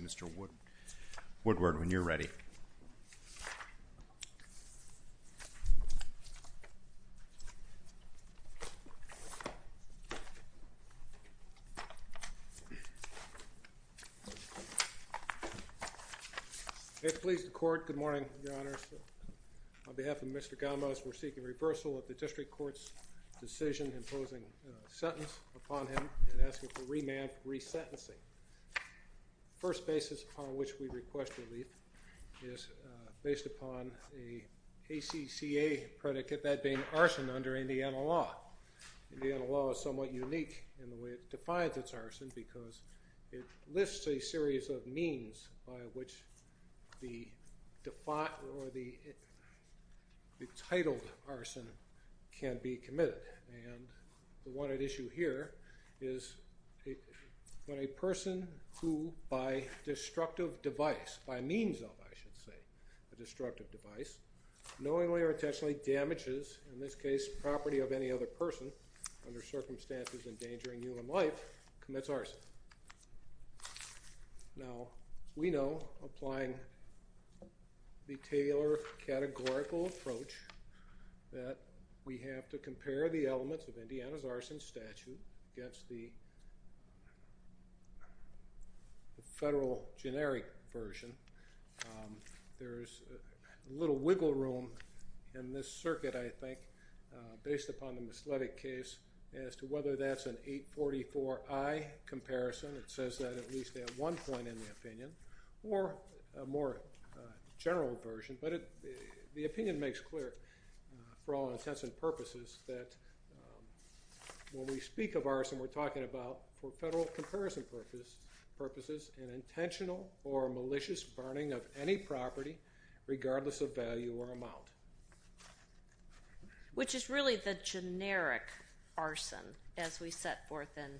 Mr. Woodward, when you're ready. If it pleases the Court, good morning, Mr. Chairman. Good morning, Your Honors. On behalf of Mr. Gamez, we're seeking reversal of the District Court's decision imposing a sentence upon him and asking for remand for resentencing. The first basis upon which we request relief is based upon the ACCA predicate, that being arson under Indiana law. Indiana law is somewhat unique in the way it defines its arson because it lists a series of means by which the titled arson can be committed. And the one at issue here is when a person who, by destructive device, by means of, I should say, a destructive device, knowingly or intentionally damages, in this case, property of any other person under circumstances endangering human life, commits arson. Now, we know, applying the Taylor categorical approach, that we have to compare the elements of Indiana's arson statute against the federal generic version. There's a little wiggle room in this circuit, I think, based upon the Misletic case as to whether that's an 844I comparison. It says that at least at one point in the opinion, or a more general version. But the opinion makes clear, for all intents and purposes, that when we speak of arson, we're talking about, for federal comparison purposes, an intentional or malicious burning of any property, regardless of value or amount. Which is really the generic arson, as we set forth in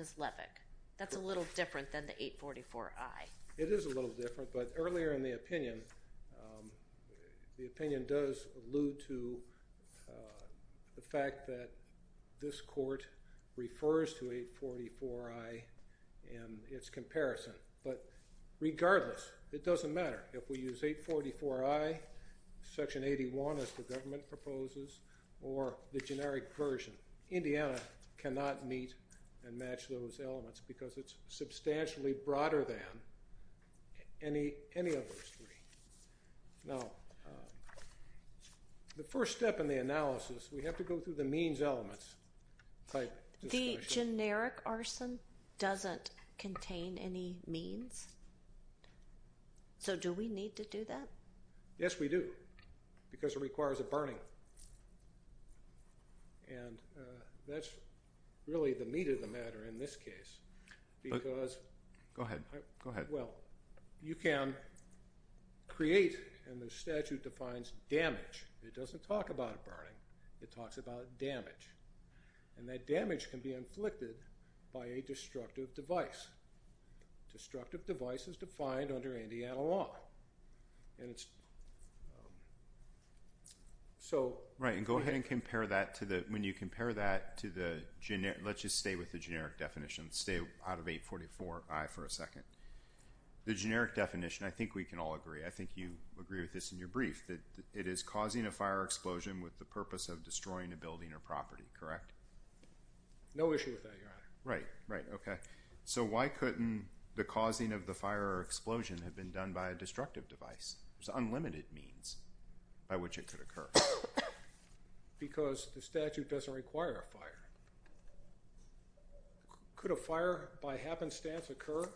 Misletic. That's a little different than the 844I. It is a little different, but earlier in the opinion, the opinion does allude to the fact that this court refers to 844I in its comparison. But regardless, it doesn't matter. If we use 844I, Section 81, as the government proposes, or the generic version, Indiana cannot meet and match those elements, because it's substantially broader than any of those three. Now, the first step in the analysis, we have to go through the means elements. The generic arson doesn't contain any means? So do we need to do that? Yes, we do. Because it requires a burning. And that's really the meat of the matter in this case. Go ahead. Go ahead. Well, you can create, and the statute defines, damage. It doesn't talk about burning. It talks about damage. And that damage can be inflicted by a destructive device. Destructive device is defined under Indiana law. Right, and go ahead and compare that to the, when you compare that to the, let's just stay with the generic definition. Stay out of 844I for a second. The generic definition, I think we can all agree, I think you agree with this in your brief, that it is causing a fire explosion with the purpose of destroying a building or property, correct? No issue with that, Your Honor. Right, right, okay. So why couldn't the causing of the fire or explosion have been done by a destructive device? There's unlimited means by which it could occur. Because the statute doesn't require a fire. Could a fire by happenstance occur?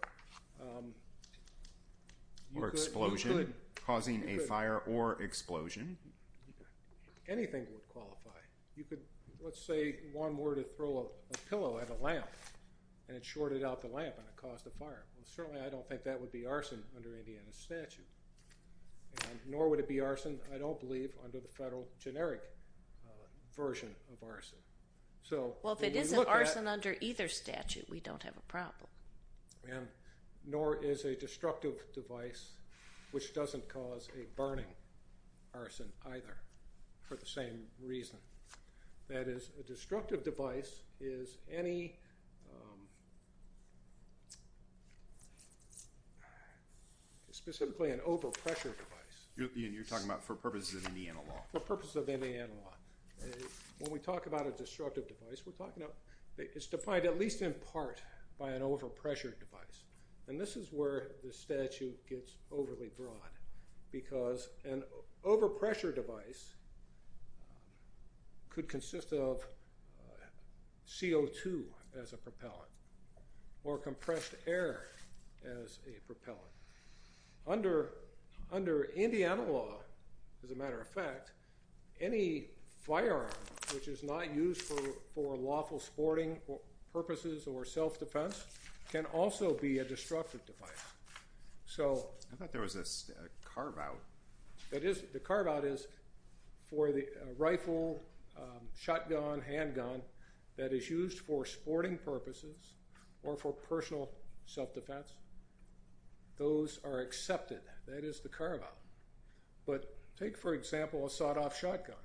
Or explosion causing a fire or explosion? Anything would qualify. You could, let's say one were to throw a pillow at a lamp and it shorted out the lamp and it caused a fire. And certainly I don't think that would be arson under Indiana statute. And nor would it be arson, I don't believe, under the federal generic version of arson. Well, if it isn't arson under either statute, we don't have a problem. And nor is a destructive device, which doesn't cause a burning arson either, for the same reason. That is, a destructive device is any, specifically an overpressure device. You're talking about for purposes of Indiana law. For purposes of Indiana law. When we talk about a destructive device, we're talking about, it's defined at least in part by an overpressure device. And this is where the statute gets overly broad. Because an overpressure device could consist of CO2 as a propellant. Or compressed air as a propellant. Under Indiana law, as a matter of fact, any firearm which is not used for lawful sporting purposes or self-defense can also be a destructive device. I thought there was a carve-out. The carve-out is for the rifle, shotgun, handgun that is used for sporting purposes or for personal self-defense. Those are accepted. That is the carve-out. But take, for example, a sawed-off shotgun.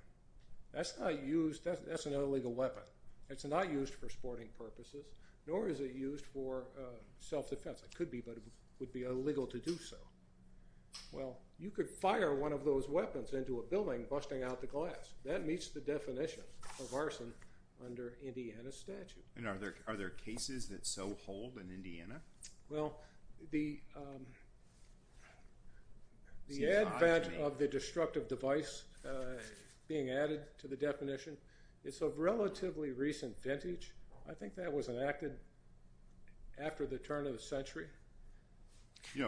That's not used, that's an illegal weapon. It's not used for sporting purposes, nor is it used for self-defense. It could be, but it would be illegal to do so. Well, you could fire one of those weapons into a building, busting out the glass. That meets the definition of arson under Indiana statute. And are there cases that so hold in Indiana? Well, the advent of the destructive device being added to the definition is of relatively recent vintage. I think that was enacted after the turn of the century. You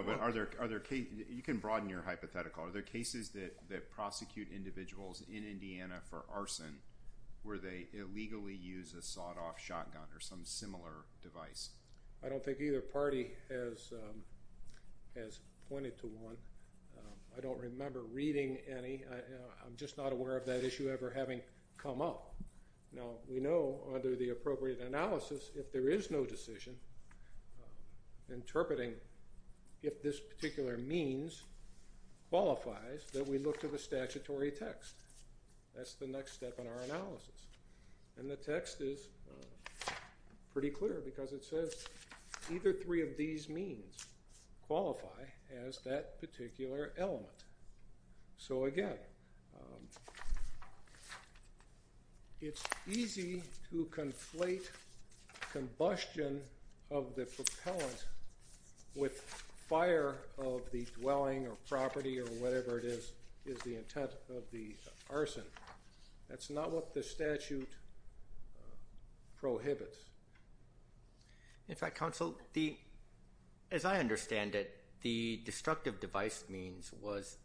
can broaden your hypothetical. Are there cases that prosecute individuals in Indiana for arson where they illegally use a sawed-off shotgun or some similar device? I don't think either party has pointed to one. I don't remember reading any. I'm just not aware of that issue ever having come up. Now, we know under the appropriate analysis, if there is no decision, interpreting if this particular means qualifies, that we look to the statutory text. That's the next step in our analysis. And the text is pretty clear because it says either three of these means qualify as that particular element. So, again, it's easy to conflate combustion of the propellant with fire of the dwelling or property or whatever it is, is the intent of the arson. That's not what the statute prohibits. In fact, counsel, as I understand it, the destructive device means was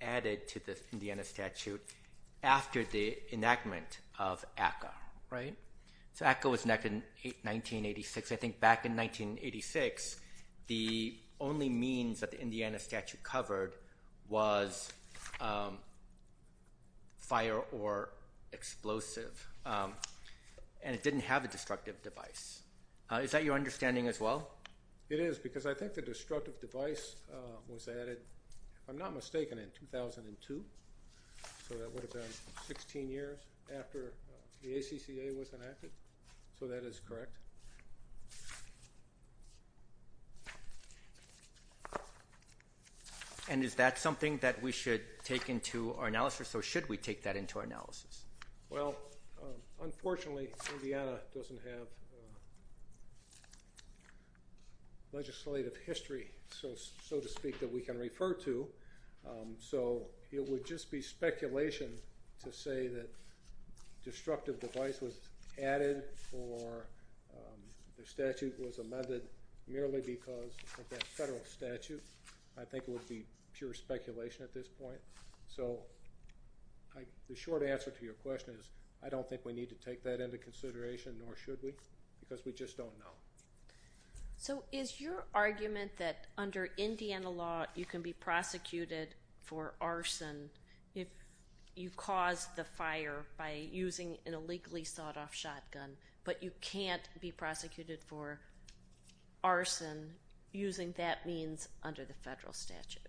added to the Indiana statute after the enactment of ACCA, right? So ACCA was enacted in 1986. I think back in 1986, the only means that the Indiana statute covered was fire or explosive. And it didn't have a destructive device. Is that your understanding as well? It is because I think the destructive device was added, if I'm not mistaken, in 2002. So that would have been 16 years after the ACCA was enacted. So that is correct. And is that something that we should take into our analysis or should we take that into our analysis? Well, unfortunately, Indiana doesn't have legislative history, so to speak, that we can refer to. So it would just be speculation to say that destructive device was added or the statute was amended merely because of that federal statute. I think it would be pure speculation at this point. So the short answer to your question is I don't think we need to take that into consideration, nor should we, because we just don't know. So is your argument that under Indiana law, you can be prosecuted for arson if you cause the fire by using an illegally sought-off shotgun, but you can't be prosecuted for arson using that means under the federal statute?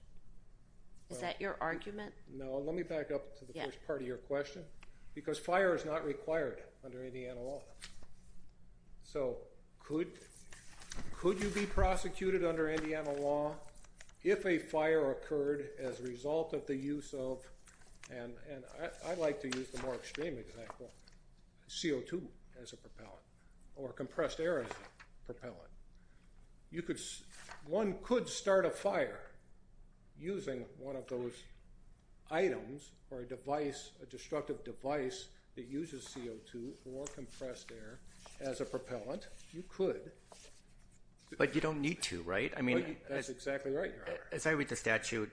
Is that your argument? No, let me back up to the first part of your question, because fire is not required under Indiana law. So could you be prosecuted under Indiana law if a fire occurred as a result of the use of, and I like to use the more extreme example, CO2 as a propellant or compressed air as a propellant. One could start a fire using one of those items or a destructive device that uses CO2 or compressed air as a propellant. You could. But you don't need to, right? As I read the statute,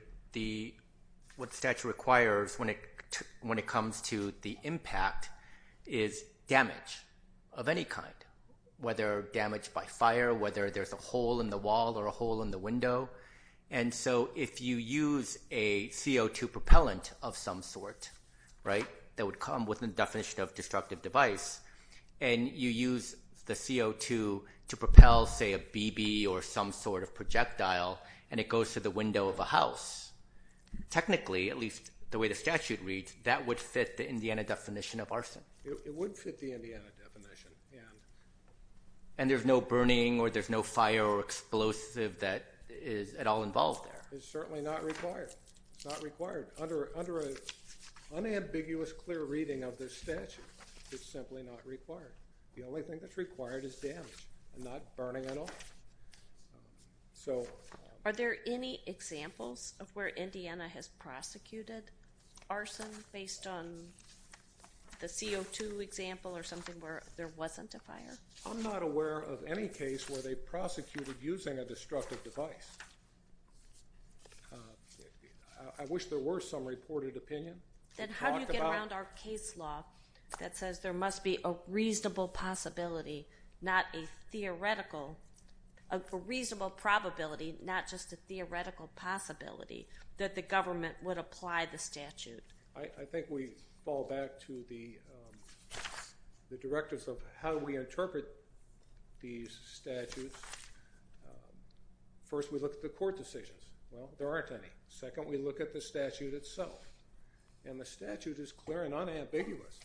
what the statute requires when it comes to the impact is damage of any kind, whether damage by fire, whether there's a hole in the wall or a hole in the window. And so if you use a CO2 propellant of some sort, right, that would come within the definition of destructive device, and you use the CO2 to propel, say, a BB or some sort of projectile, and it goes to the window of a house, technically, at least the way the statute reads, that would fit the Indiana definition of arson. It would fit the Indiana definition, yeah. And there's no burning or there's no fire or explosive that is at all involved there. It's certainly not required. It's not required. Under an unambiguous, clear reading of this statute, it's simply not required. The only thing that's required is damage and not burning at all. So are there any examples of where Indiana has prosecuted arson based on the CO2 example or something where there wasn't a fire? I'm not aware of any case where they prosecuted using a destructive device. I wish there were some reported opinion. Then how do you get around our case law that says there must be a reasonable possibility, not a theoretical, a reasonable probability, not just a theoretical possibility, that the government would apply the statute? I think we fall back to the directives of how we interpret these statutes. First, we look at the court decisions. Well, there aren't any. Second, we look at the statute itself, and the statute is clear and unambiguous.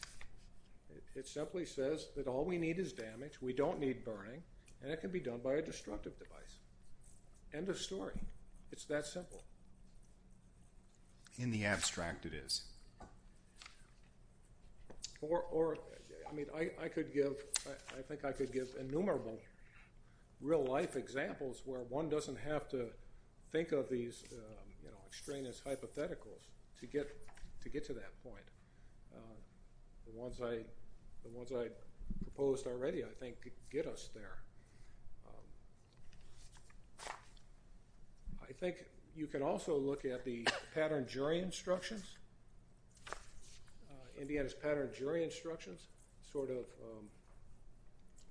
It simply says that all we need is damage, we don't need burning, and it can be done by a destructive device. End of story. It's that simple. In the abstract, it is. I think I could give innumerable real-life examples where one doesn't have to think of these extraneous hypotheticals to get to that point. The ones I proposed already, I think, could get us there. I think you could also look at the Pattern Jury Instructions. Indiana's Pattern Jury Instructions sort of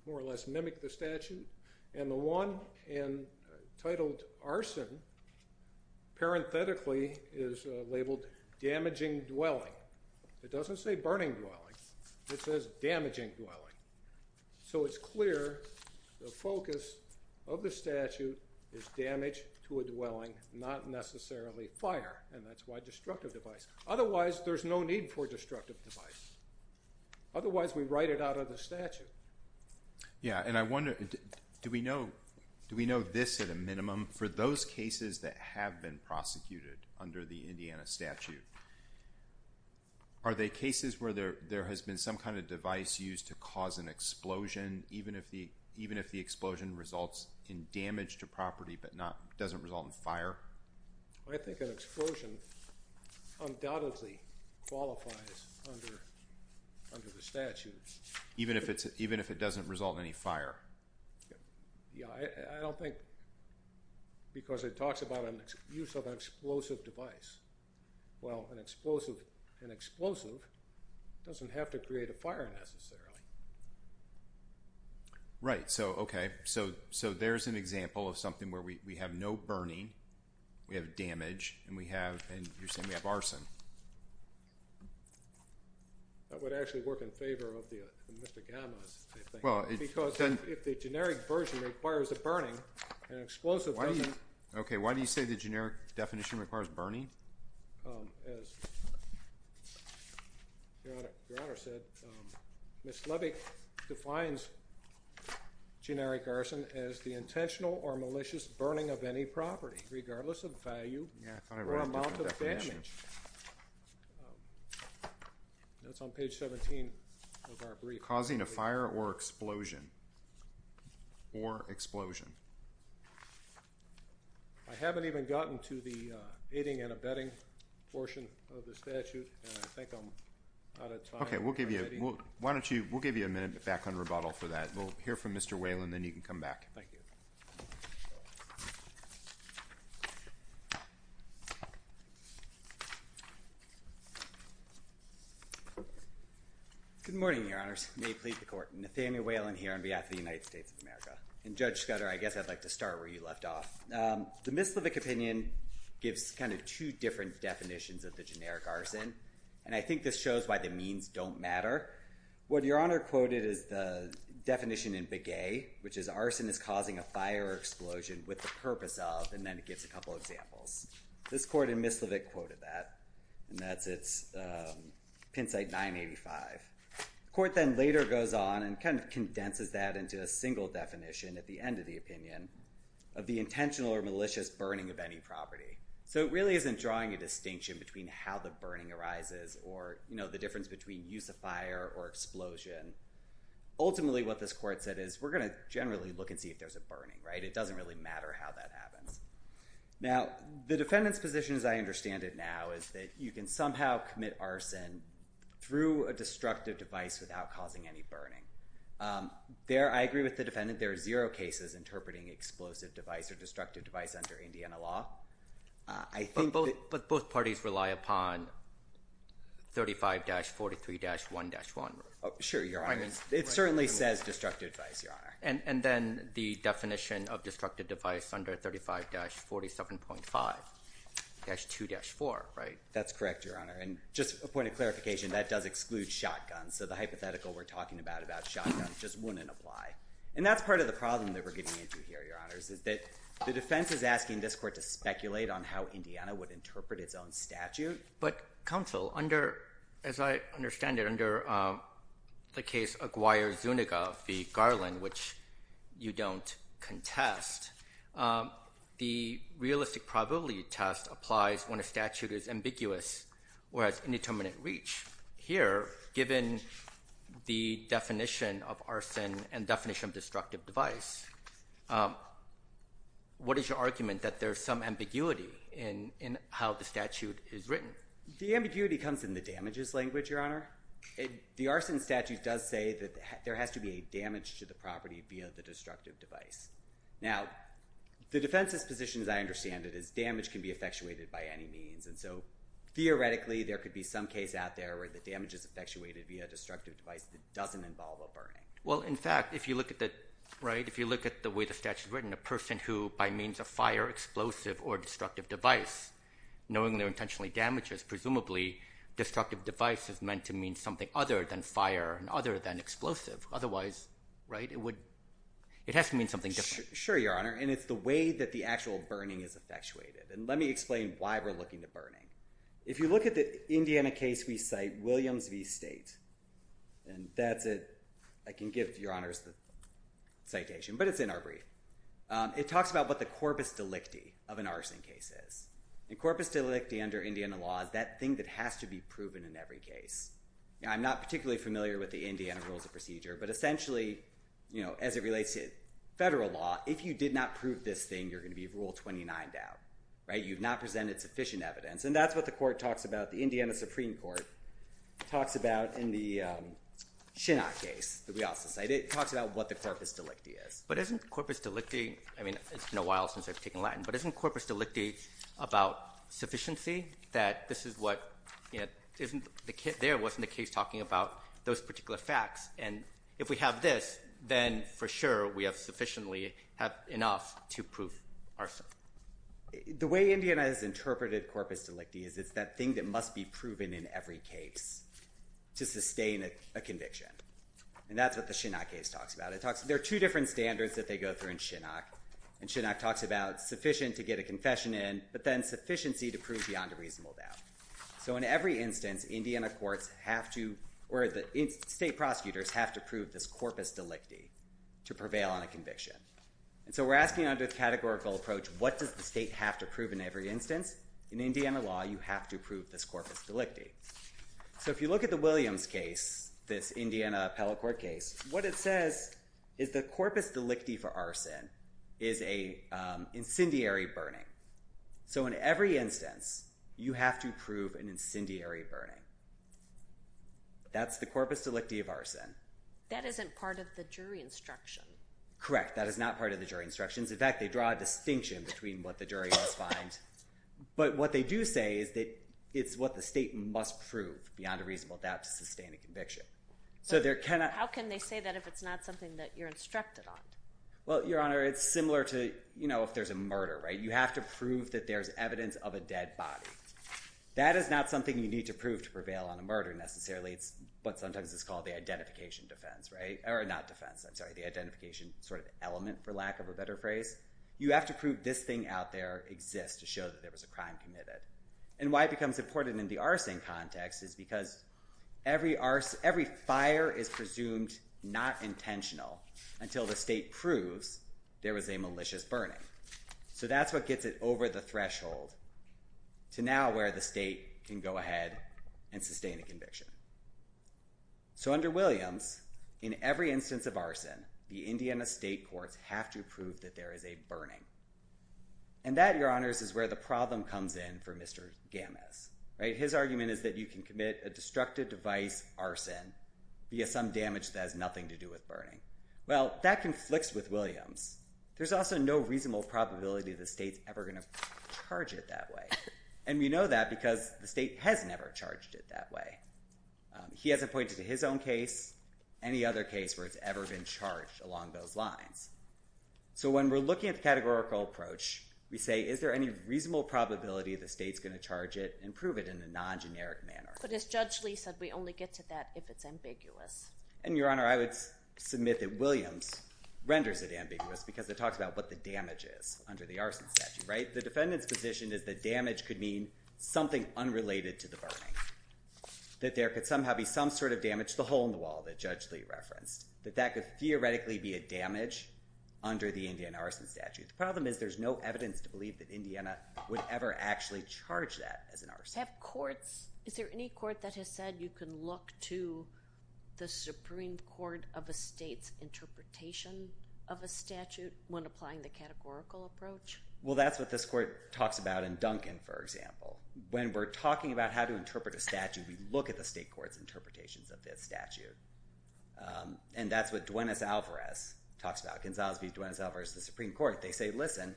more or less mimic the statute. And the one entitled arson, parenthetically, is labeled damaging dwelling. It doesn't say burning dwelling. It says damaging dwelling. So it's clear the focus of the statute is damage to a dwelling, not necessarily fire, and that's why destructive device. Otherwise, there's no need for destructive device. Otherwise, we write it out of the statute. Yeah, and I wonder, do we know this at a minimum? For those cases that have been prosecuted under the Indiana statute, are there cases where there has been some kind of device used to cause an explosion, even if the explosion results in damage to property but doesn't result in fire? I think an explosion undoubtedly qualifies under the statute. Even if it doesn't result in any fire? Yeah, I don't think because it talks about the use of an explosive device. Well, an explosive doesn't have to create a fire necessarily. Right, so okay. So there's an example of something where we have no burning, we have damage, and you're saying we have arson. That would actually work in favor of the gammas, I think. Because if the generic version requires a burning, an explosive doesn't. Okay, why do you say the generic definition requires burning? As your Honor said, Ms. Levick defines generic arson as the intentional or malicious burning of any property, regardless of value or amount of damage. That's on page 17 of our brief. Okay, we'll give you a minute back on rebuttal for that. We'll hear from Mr. Whalen and then you can come back. Thank you. Good morning, Your Honors. Good morning. I'm Nathaniel Whalen here on behalf of the United States of America. And Judge Scudder, I guess I'd like to start where you left off. The Ms. Levick opinion gives kind of two different definitions of the generic arson. And I think this shows why the means don't matter. What Your Honor quoted is the definition in Begay, which is arson is causing a fire or explosion with the purpose of, and then it gives a couple examples. This court in Ms. Levick quoted that. And that's its pin site 985. The court then later goes on and kind of condenses that into a single definition at the end of the opinion of the intentional or malicious burning of any property. So it really isn't drawing a distinction between how the burning arises or, you know, the difference between use of fire or explosion. Ultimately, what this court said is we're going to generally look and see if there's a burning, right? It doesn't really matter how that happens. Now, the defendant's position, as I understand it now, is that you can somehow commit arson through a destructive device without causing any burning. I agree with the defendant. There are zero cases interpreting explosive device or destructive device under Indiana law. But both parties rely upon 35-43-1-1. Sure, Your Honor. It certainly says destructive device, Your Honor. And then the definition of destructive device under 35-47.5-2-4, right? That's correct, Your Honor. And just a point of clarification, that does exclude shotguns. So the hypothetical we're talking about about shotguns just wouldn't apply. And that's part of the problem that we're getting into here, Your Honors, is that the defense is asking this court to speculate on how Indiana would interpret its own statute. But counsel, as I understand it, under the case Aguirre-Zuniga v. Garland, which you don't contest, the realistic probability test applies when a statute is ambiguous or has indeterminate reach. Here, given the definition of arson and definition of destructive device, what is your argument that there's some ambiguity in how the statute is written? The ambiguity comes in the damages language, Your Honor. The arson statute does say that there has to be a damage to the property via the destructive device. Now, the defense's position, as I understand it, is damage can be effectuated by any means. And so theoretically, there could be some case out there where the damage is effectuated via a destructive device that doesn't involve a burning. Well, in fact, if you look at the way the statute is written, a person who, by means of fire, explosive, or destructive device, knowing they're intentionally damages, presumably destructive device is meant to mean something other than fire and other than explosive. Otherwise, it has to mean something different. Sure, Your Honor. And it's the way that the actual burning is effectuated. And let me explain why we're looking at burning. If you look at the Indiana case we cite, Williams v. State, and that's it. I can give Your Honors the citation, but it's in our brief. It talks about what the corpus delicti of an arson case is. And corpus delicti under Indiana law is that thing that has to be proven in every case. I'm not particularly familiar with the Indiana Rules of Procedure. But essentially, as it relates to federal law, if you did not prove this thing, you're going to be Rule 29'd out. You've not presented sufficient evidence. And that's what the court talks about. The Indiana Supreme Court talks about in the Chinot case that we also cite. It talks about what the corpus delicti is. But isn't corpus delicti – I mean, it's been a while since I've taken Latin – but isn't corpus delicti about sufficiency? That this is what – there wasn't a case talking about those particular facts. And if we have this, then for sure we have sufficiently – have enough to prove arson. The way Indiana has interpreted corpus delicti is it's that thing that must be proven in every case to sustain a conviction. And that's what the Chinot case talks about. There are two different standards that they go through in Chinot. And Chinot talks about sufficient to get a confession in, but then sufficiency to prove beyond a reasonable doubt. So in every instance, Indiana courts have to – or the state prosecutors have to prove this corpus delicti to prevail on a conviction. And so we're asking under the categorical approach, what does the state have to prove in every instance? In Indiana law, you have to prove this corpus delicti. So if you look at the Williams case, this Indiana appellate court case, what it says is the corpus delicti for arson is an incendiary burning. So in every instance, you have to prove an incendiary burning. That's the corpus delicti of arson. That isn't part of the jury instruction. Correct. That is not part of the jury instructions. In fact, they draw a distinction between what the jury must find. But what they do say is that it's what the state must prove beyond a reasonable doubt to sustain a conviction. So there cannot – How can they say that if it's not something that you're instructed on? Well, Your Honor, it's similar to, you know, if there's a murder, right? You have to prove that there's evidence of a dead body. That is not something you need to prove to prevail on a murder necessarily. It's what sometimes is called the identification defense, right? Or not defense. I'm sorry. The identification sort of element, for lack of a better phrase. You have to prove this thing out there exists to show that there was a crime committed. And why it becomes important in the arson context is because every fire is presumed not intentional until the state proves there was a malicious burning. So that's what gets it over the threshold to now where the state can go ahead and sustain a conviction. So under Williams, in every instance of arson, the Indiana state courts have to prove that there is a burning. And that, Your Honors, is where the problem comes in for Mr. Gamis, right? His argument is that you can commit a destructive device arson via some damage that has nothing to do with burning. Well, that conflicts with Williams. There's also no reasonable probability the state's ever going to charge it that way. And we know that because the state has never charged it that way. He hasn't pointed to his own case, any other case where it's ever been charged along those lines. So when we're looking at the categorical approach, we say, is there any reasonable probability the state's going to charge it and prove it in a non-generic manner? But as Judge Lee said, we only get to that if it's ambiguous. And, Your Honor, I would submit that Williams renders it ambiguous because it talks about what the damage is under the arson statute, right? If the defendant's position is that damage could mean something unrelated to the burning, that there could somehow be some sort of damage to the hole in the wall that Judge Lee referenced, that that could theoretically be a damage under the Indiana arson statute. The problem is there's no evidence to believe that Indiana would ever actually charge that as an arson. Have courts – is there any court that has said you can look to the Supreme Court of a state's interpretation of a statute when applying the categorical approach? Well, that's what this court talks about in Duncan, for example. When we're talking about how to interpret a statute, we look at the state court's interpretations of this statute. And that's what Duenas-Alvarez talks about. Gonzalez v. Duenas-Alvarez, the Supreme Court, they say, listen,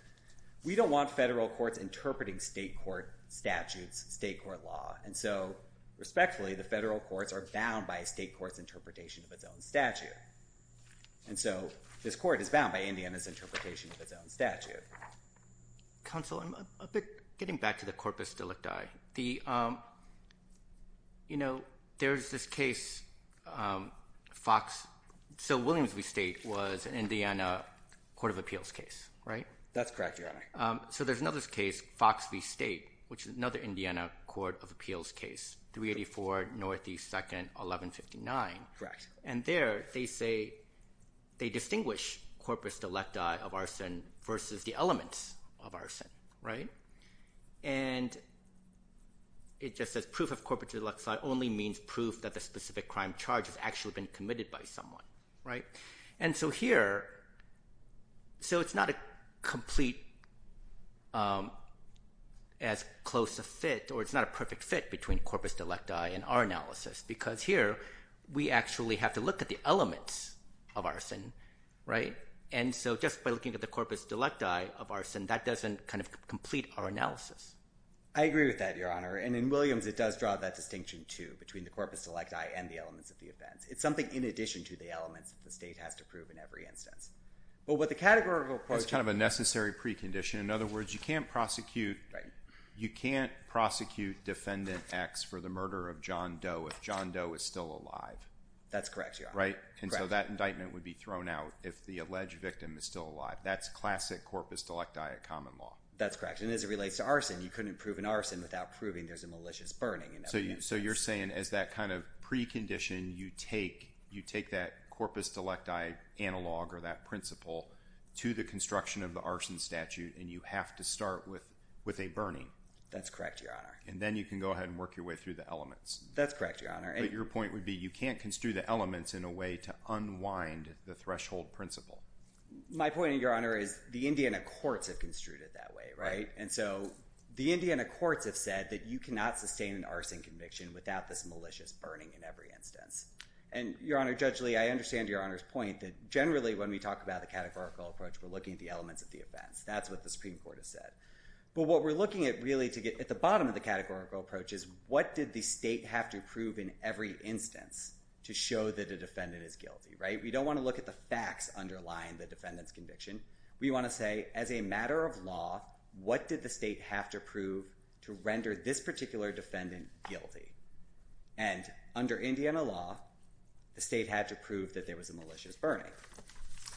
we don't want federal courts interpreting state court statutes, state court law. And so, respectfully, the federal courts are bound by a state court's interpretation of its own statute. And so this court is bound by Indiana's interpretation of its own statute. Counsel, getting back to the corpus delicti, there's this case – so Williams v. State was an Indiana court of appeals case, right? That's correct, Your Honor. So there's another case, Fox v. State, which is another Indiana court of appeals case, 384 Northeast 2nd, 1159. Correct. And there they say they distinguish corpus delicti of arson versus the elements of arson, right? And it just says proof of corpus delicti only means proof that the specific crime charge has actually been committed by someone, right? And so here – so it's not a complete, as close a fit, or it's not a perfect fit between corpus delicti and our analysis. Because here, we actually have to look at the elements of arson, right? And so just by looking at the corpus delicti of arson, that doesn't kind of complete our analysis. I agree with that, Your Honor. And in Williams, it does draw that distinction, too, between the corpus delicti and the elements of the offense. It's something in addition to the elements the state has to prove in every instance. But what the categorical approach – That's kind of a necessary precondition. In other words, you can't prosecute – you can't prosecute Defendant X for the murder of John Doe if John Doe is still alive. That's correct, Your Honor. Right? And so that indictment would be thrown out if the alleged victim is still alive. That's classic corpus delicti common law. That's correct. And as it relates to arson, you couldn't prove an arson without proving there's a malicious burning in every instance. So you're saying as that kind of precondition, you take that corpus delicti analog or that principle to the construction of the arson statute, and you have to start with a burning. That's correct, Your Honor. And then you can go ahead and work your way through the elements. That's correct, Your Honor. But your point would be you can't construe the elements in a way to unwind the threshold principle. My point, Your Honor, is the Indiana courts have construed it that way, right? And so the Indiana courts have said that you cannot sustain an arson conviction without this malicious burning in every instance. And, Your Honor, judgely, I understand Your Honor's point that generally when we talk about the categorical approach, we're looking at the elements of the offense. That's what the Supreme Court has said. But what we're looking at really to get at the bottom of the categorical approach is what did the state have to prove in every instance to show that a defendant is guilty, right? We don't want to look at the facts underlying the defendant's conviction. We want to say as a matter of law, what did the state have to prove to render this particular defendant guilty? And under Indiana law, the state had to prove that there was a malicious burning.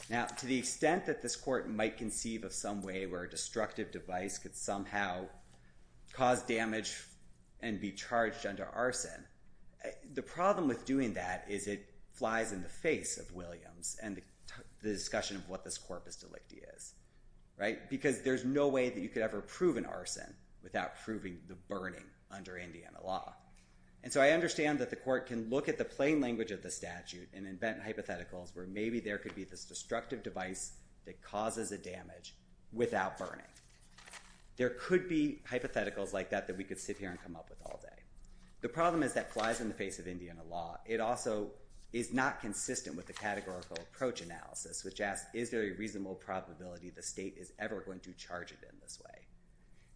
Now, to the extent that this court might conceive of some way where a destructive device could somehow cause damage and be charged under arson, the problem with doing that is it flies in the face of Williams and the discussion of what this corpus delicti is, right? Because there's no way that you could ever prove an arson without proving the burning under Indiana law. And so I understand that the court can look at the plain language of the statute and invent hypotheticals where maybe there could be this destructive device that causes a damage without burning. There could be hypotheticals like that that we could sit here and come up with all day. The problem is that it flies in the face of Indiana law. It also is not consistent with the categorical approach analysis, which asks, is there a reasonable probability the state is ever going to charge it in this way?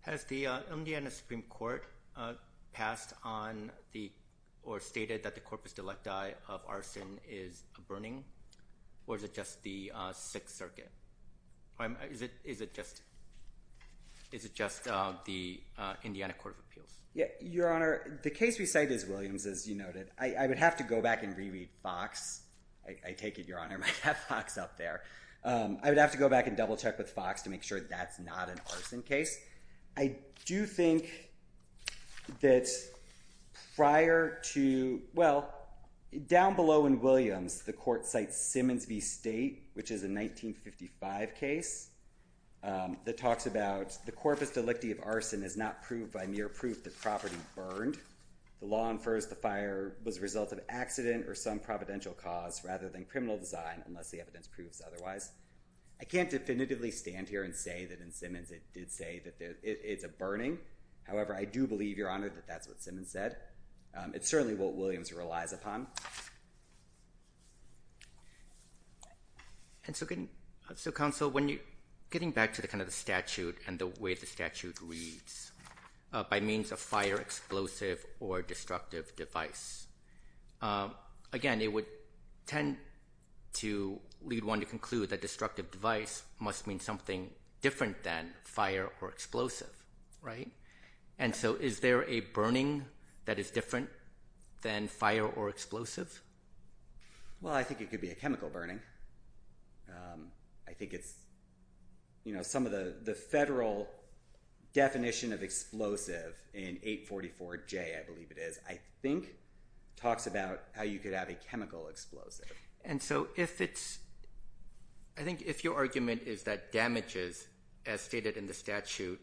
Has the Indiana Supreme Court passed on or stated that the corpus delicti of arson is a burning, or is it just the Sixth Circuit? Is it just the Indiana Court of Appeals? Your Honor, the case we cite is Williams, as you noted. I would have to go back and re-read Fox. I take it, Your Honor, might have Fox up there. I would have to go back and double-check with Fox to make sure that's not an arson case. I do think that prior to, well, down below in Williams, the court cites Simmons v. State, which is a 1955 case that talks about the corpus delicti of arson is not proved by mere proof the property burned. The law infers the fire was a result of accident or some providential cause rather than criminal design unless the evidence proves otherwise. I can't definitively stand here and say that in Simmons it did say that it's a burning. However, I do believe, Your Honor, that that's what Simmons said. It's certainly what Williams relies upon. And so, counsel, when you're getting back to kind of the statute and the way the statute reads, by means of fire, explosive, or destructive device, again, it would tend to lead one to conclude that destructive device must mean something different than fire or explosive, right? And so is there a burning that is different than fire or explosive? Well, I think it could be a chemical burning. I think it's, you know, some of the federal definition of explosive in 844J, I believe it is, I think talks about how you could have a chemical explosive. And so if it's – I think if your argument is that damages, as stated in the statute,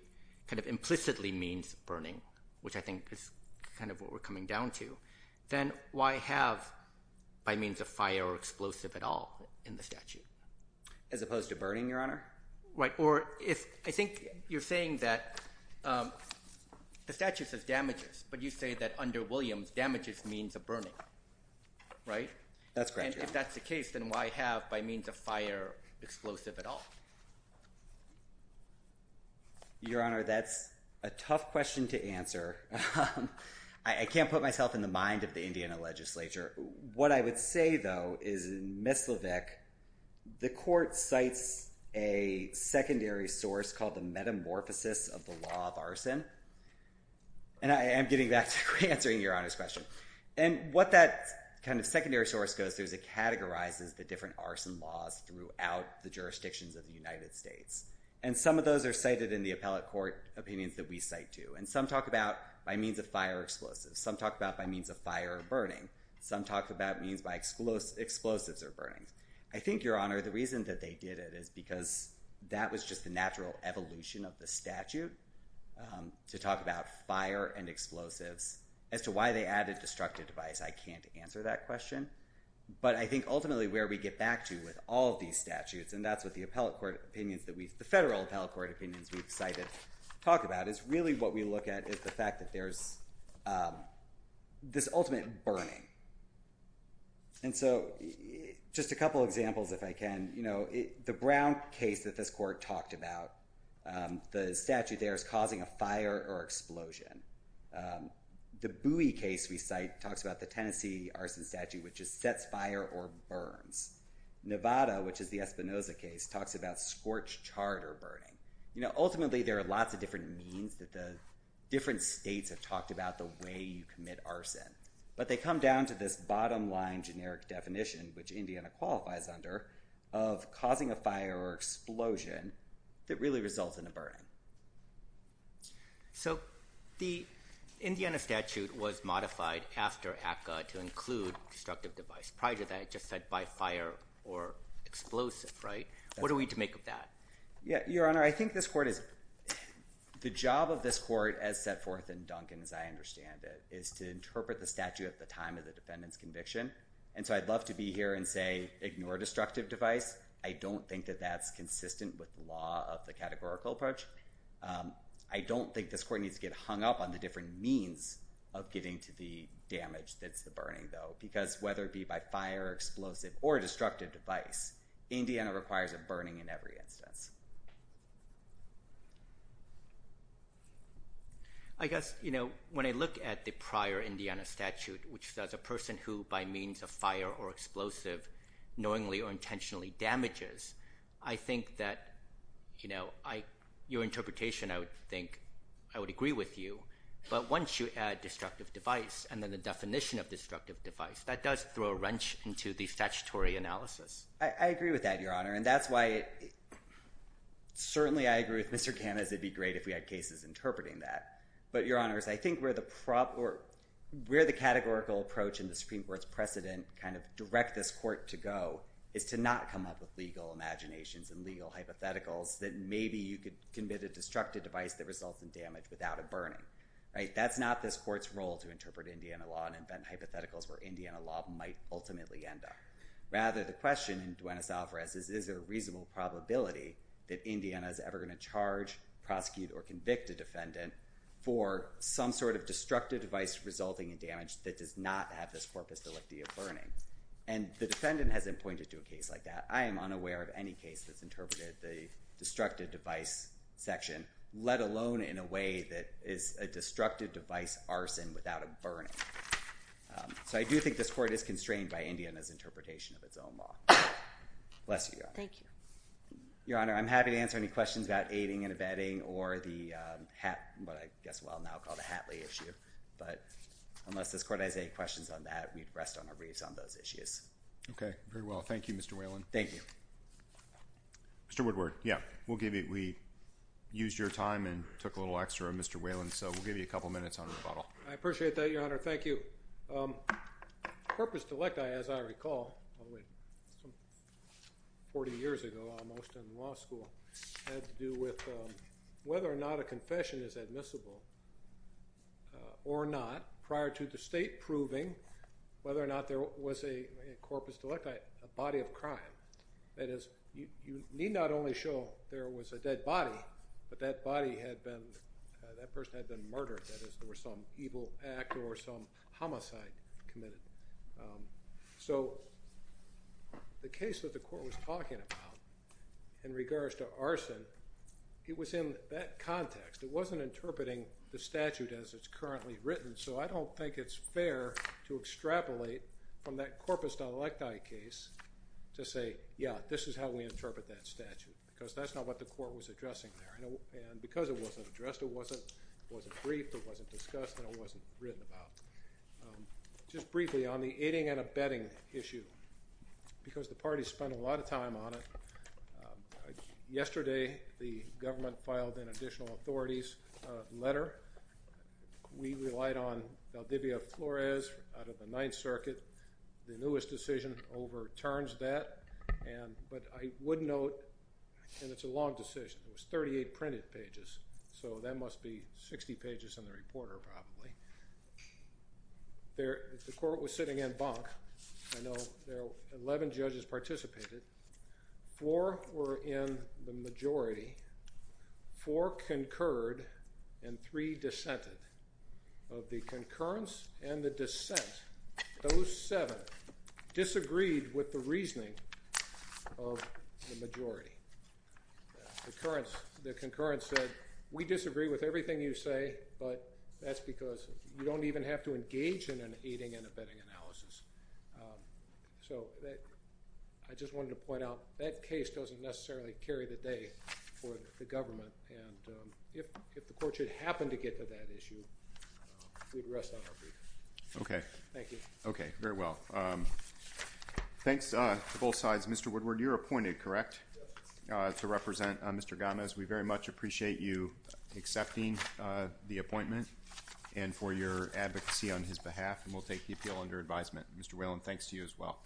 kind of implicitly means burning, which I think is kind of what we're coming down to, then why have by means of fire or explosive at all in the statute? As opposed to burning, Your Honor? Right, or if – I think you're saying that the statute says damages, but you say that under Williams damages means a burning, right? That's correct, Your Honor. And if that's the case, then why have, by means of fire, explosive at all? Your Honor, that's a tough question to answer. I can't put myself in the mind of the Indiana legislature. What I would say, though, is in Mislavik, the court cites a secondary source called the metamorphosis of the law of arson. And I am getting back to answering Your Honor's question. And what that kind of secondary source goes through is it categorizes the different arson laws throughout the jurisdictions of the United States. And some of those are cited in the appellate court opinions that we cite, too. And some talk about by means of fire or explosive. Some talk about by means of fire or burning. Some talk about means by explosives or burning. I think, Your Honor, the reason that they did it is because that was just the natural evolution of the statute to talk about fire and explosives. As to why they added destructive device, I can't answer that question. But I think ultimately where we get back to with all of these statutes, and that's what the appellate court opinions that we – the federal appellate court opinions we've cited talk about, is really what we look at is the fact that there's this ultimate burning. And so just a couple examples, if I can. You know, the Brown case that this court talked about, the statute there is causing a fire or explosion. The Bowie case we cite talks about the Tennessee arson statute, which is sets fire or burns. Nevada, which is the Espinoza case, talks about scorched chard or burning. You know, ultimately there are lots of different means that the different states have talked about the way you commit arson. But they come down to this bottom-line generic definition, which Indiana qualifies under, of causing a fire or explosion that really results in a burning. So the Indiana statute was modified after ACCA to include destructive device. Prior to that, it just said by fire or explosive, right? What are we to make of that? Your Honor, I think this court is – the job of this court as set forth in Duncan, as I understand it, is to interpret the statute at the time of the defendant's conviction. And so I'd love to be here and say ignore destructive device. I don't think that that's consistent with law of the categorical approach. I don't think this court needs to get hung up on the different means of getting to the damage that's the burning, though. Because whether it be by fire, explosive, or destructive device, Indiana requires a burning in every instance. I guess, you know, when I look at the prior Indiana statute, which says a person who by means of fire or explosive knowingly or intentionally damages, I think that, you know, your interpretation, I would think, I would agree with you. But once you add destructive device and then the definition of destructive device, that does throw a wrench into the statutory analysis. I agree with that, Your Honor. And that's why certainly I agree with Mr. Kanas. It'd be great if we had cases interpreting that. But, Your Honors, I think where the categorical approach and the Supreme Court's precedent kind of direct this court to go is to not come up with legal imaginations and legal hypotheticals that maybe you could commit a destructive device that results in damage without a burning. Right? That's not this court's role to interpret Indiana law and invent hypotheticals where Indiana law might ultimately end up. Rather, the question in Duenas-Alvarez is, is there a reasonable probability that Indiana is ever going to charge, prosecute, or convict a defendant for some sort of destructive device resulting in damage that does not have this corpus delicti of burning? And the defendant hasn't pointed to a case like that. I am unaware of any case that's interpreted the destructive device section, let alone in a way that is a destructive device arson without a burning. So I do think this court is constrained by Indiana's interpretation of its own law. Bless you, Your Honor. Thank you. Your Honor, I'm happy to answer any questions about aiding and abetting or the hat, what I guess we'll now call the Hatley issue. But unless this court has any questions on that, we'd rest on our wreaths on those issues. Okay. Very well. Thank you, Mr. Whalen. Thank you. Mr. Woodward. Yeah. We used your time and took a little extra, Mr. Whalen, so we'll give you a couple minutes on rebuttal. I appreciate that, Your Honor. Thank you. Corpus delicti, as I recall, 40 years ago almost in law school, had to do with whether or not a confession is admissible or not prior to the state proving whether or not there was a corpus delicti, a body of crime. That is, you need not only show there was a dead body, but that body had been, that person had been murdered. That is, there was some evil act or some homicide committed. So the case that the court was talking about in regards to arson, it was in that context. It wasn't interpreting the statute as it's currently written, so I don't think it's fair to extrapolate from that corpus delicti case to say, yeah, this is how we interpret that statute, because that's not what the court was addressing there. And because it wasn't addressed, it wasn't briefed, it wasn't discussed, and it wasn't written about. Just briefly, on the aiding and abetting issue, because the parties spent a lot of time on it, yesterday the government filed an additional authorities letter. We relied on Valdivia Flores out of the Ninth Circuit. The newest decision overturns that, but I would note, and it's a long decision, it was 38 printed pages, so that must be 60 pages in the reporter probably. The court was sitting in Banque. I know 11 judges participated. Four were in the majority, four concurred, and three dissented. Of the concurrence and the dissent, those seven disagreed with the reasoning of the majority. The concurrence said, we disagree with everything you say, but that's because you don't even have to engage in an aiding and abetting analysis. So I just wanted to point out, that case doesn't necessarily carry the day for the government, and if the court should happen to get to that issue, we'd rest on our feet. Okay. Thank you. Okay, very well. Thanks to both sides. Mr. Woodward, you're appointed, correct, to represent Mr. Gomez? We very much appreciate you accepting the appointment and for your advocacy on his behalf, and we'll take the appeal under advisement. Mr. Whalen, thanks to you as well.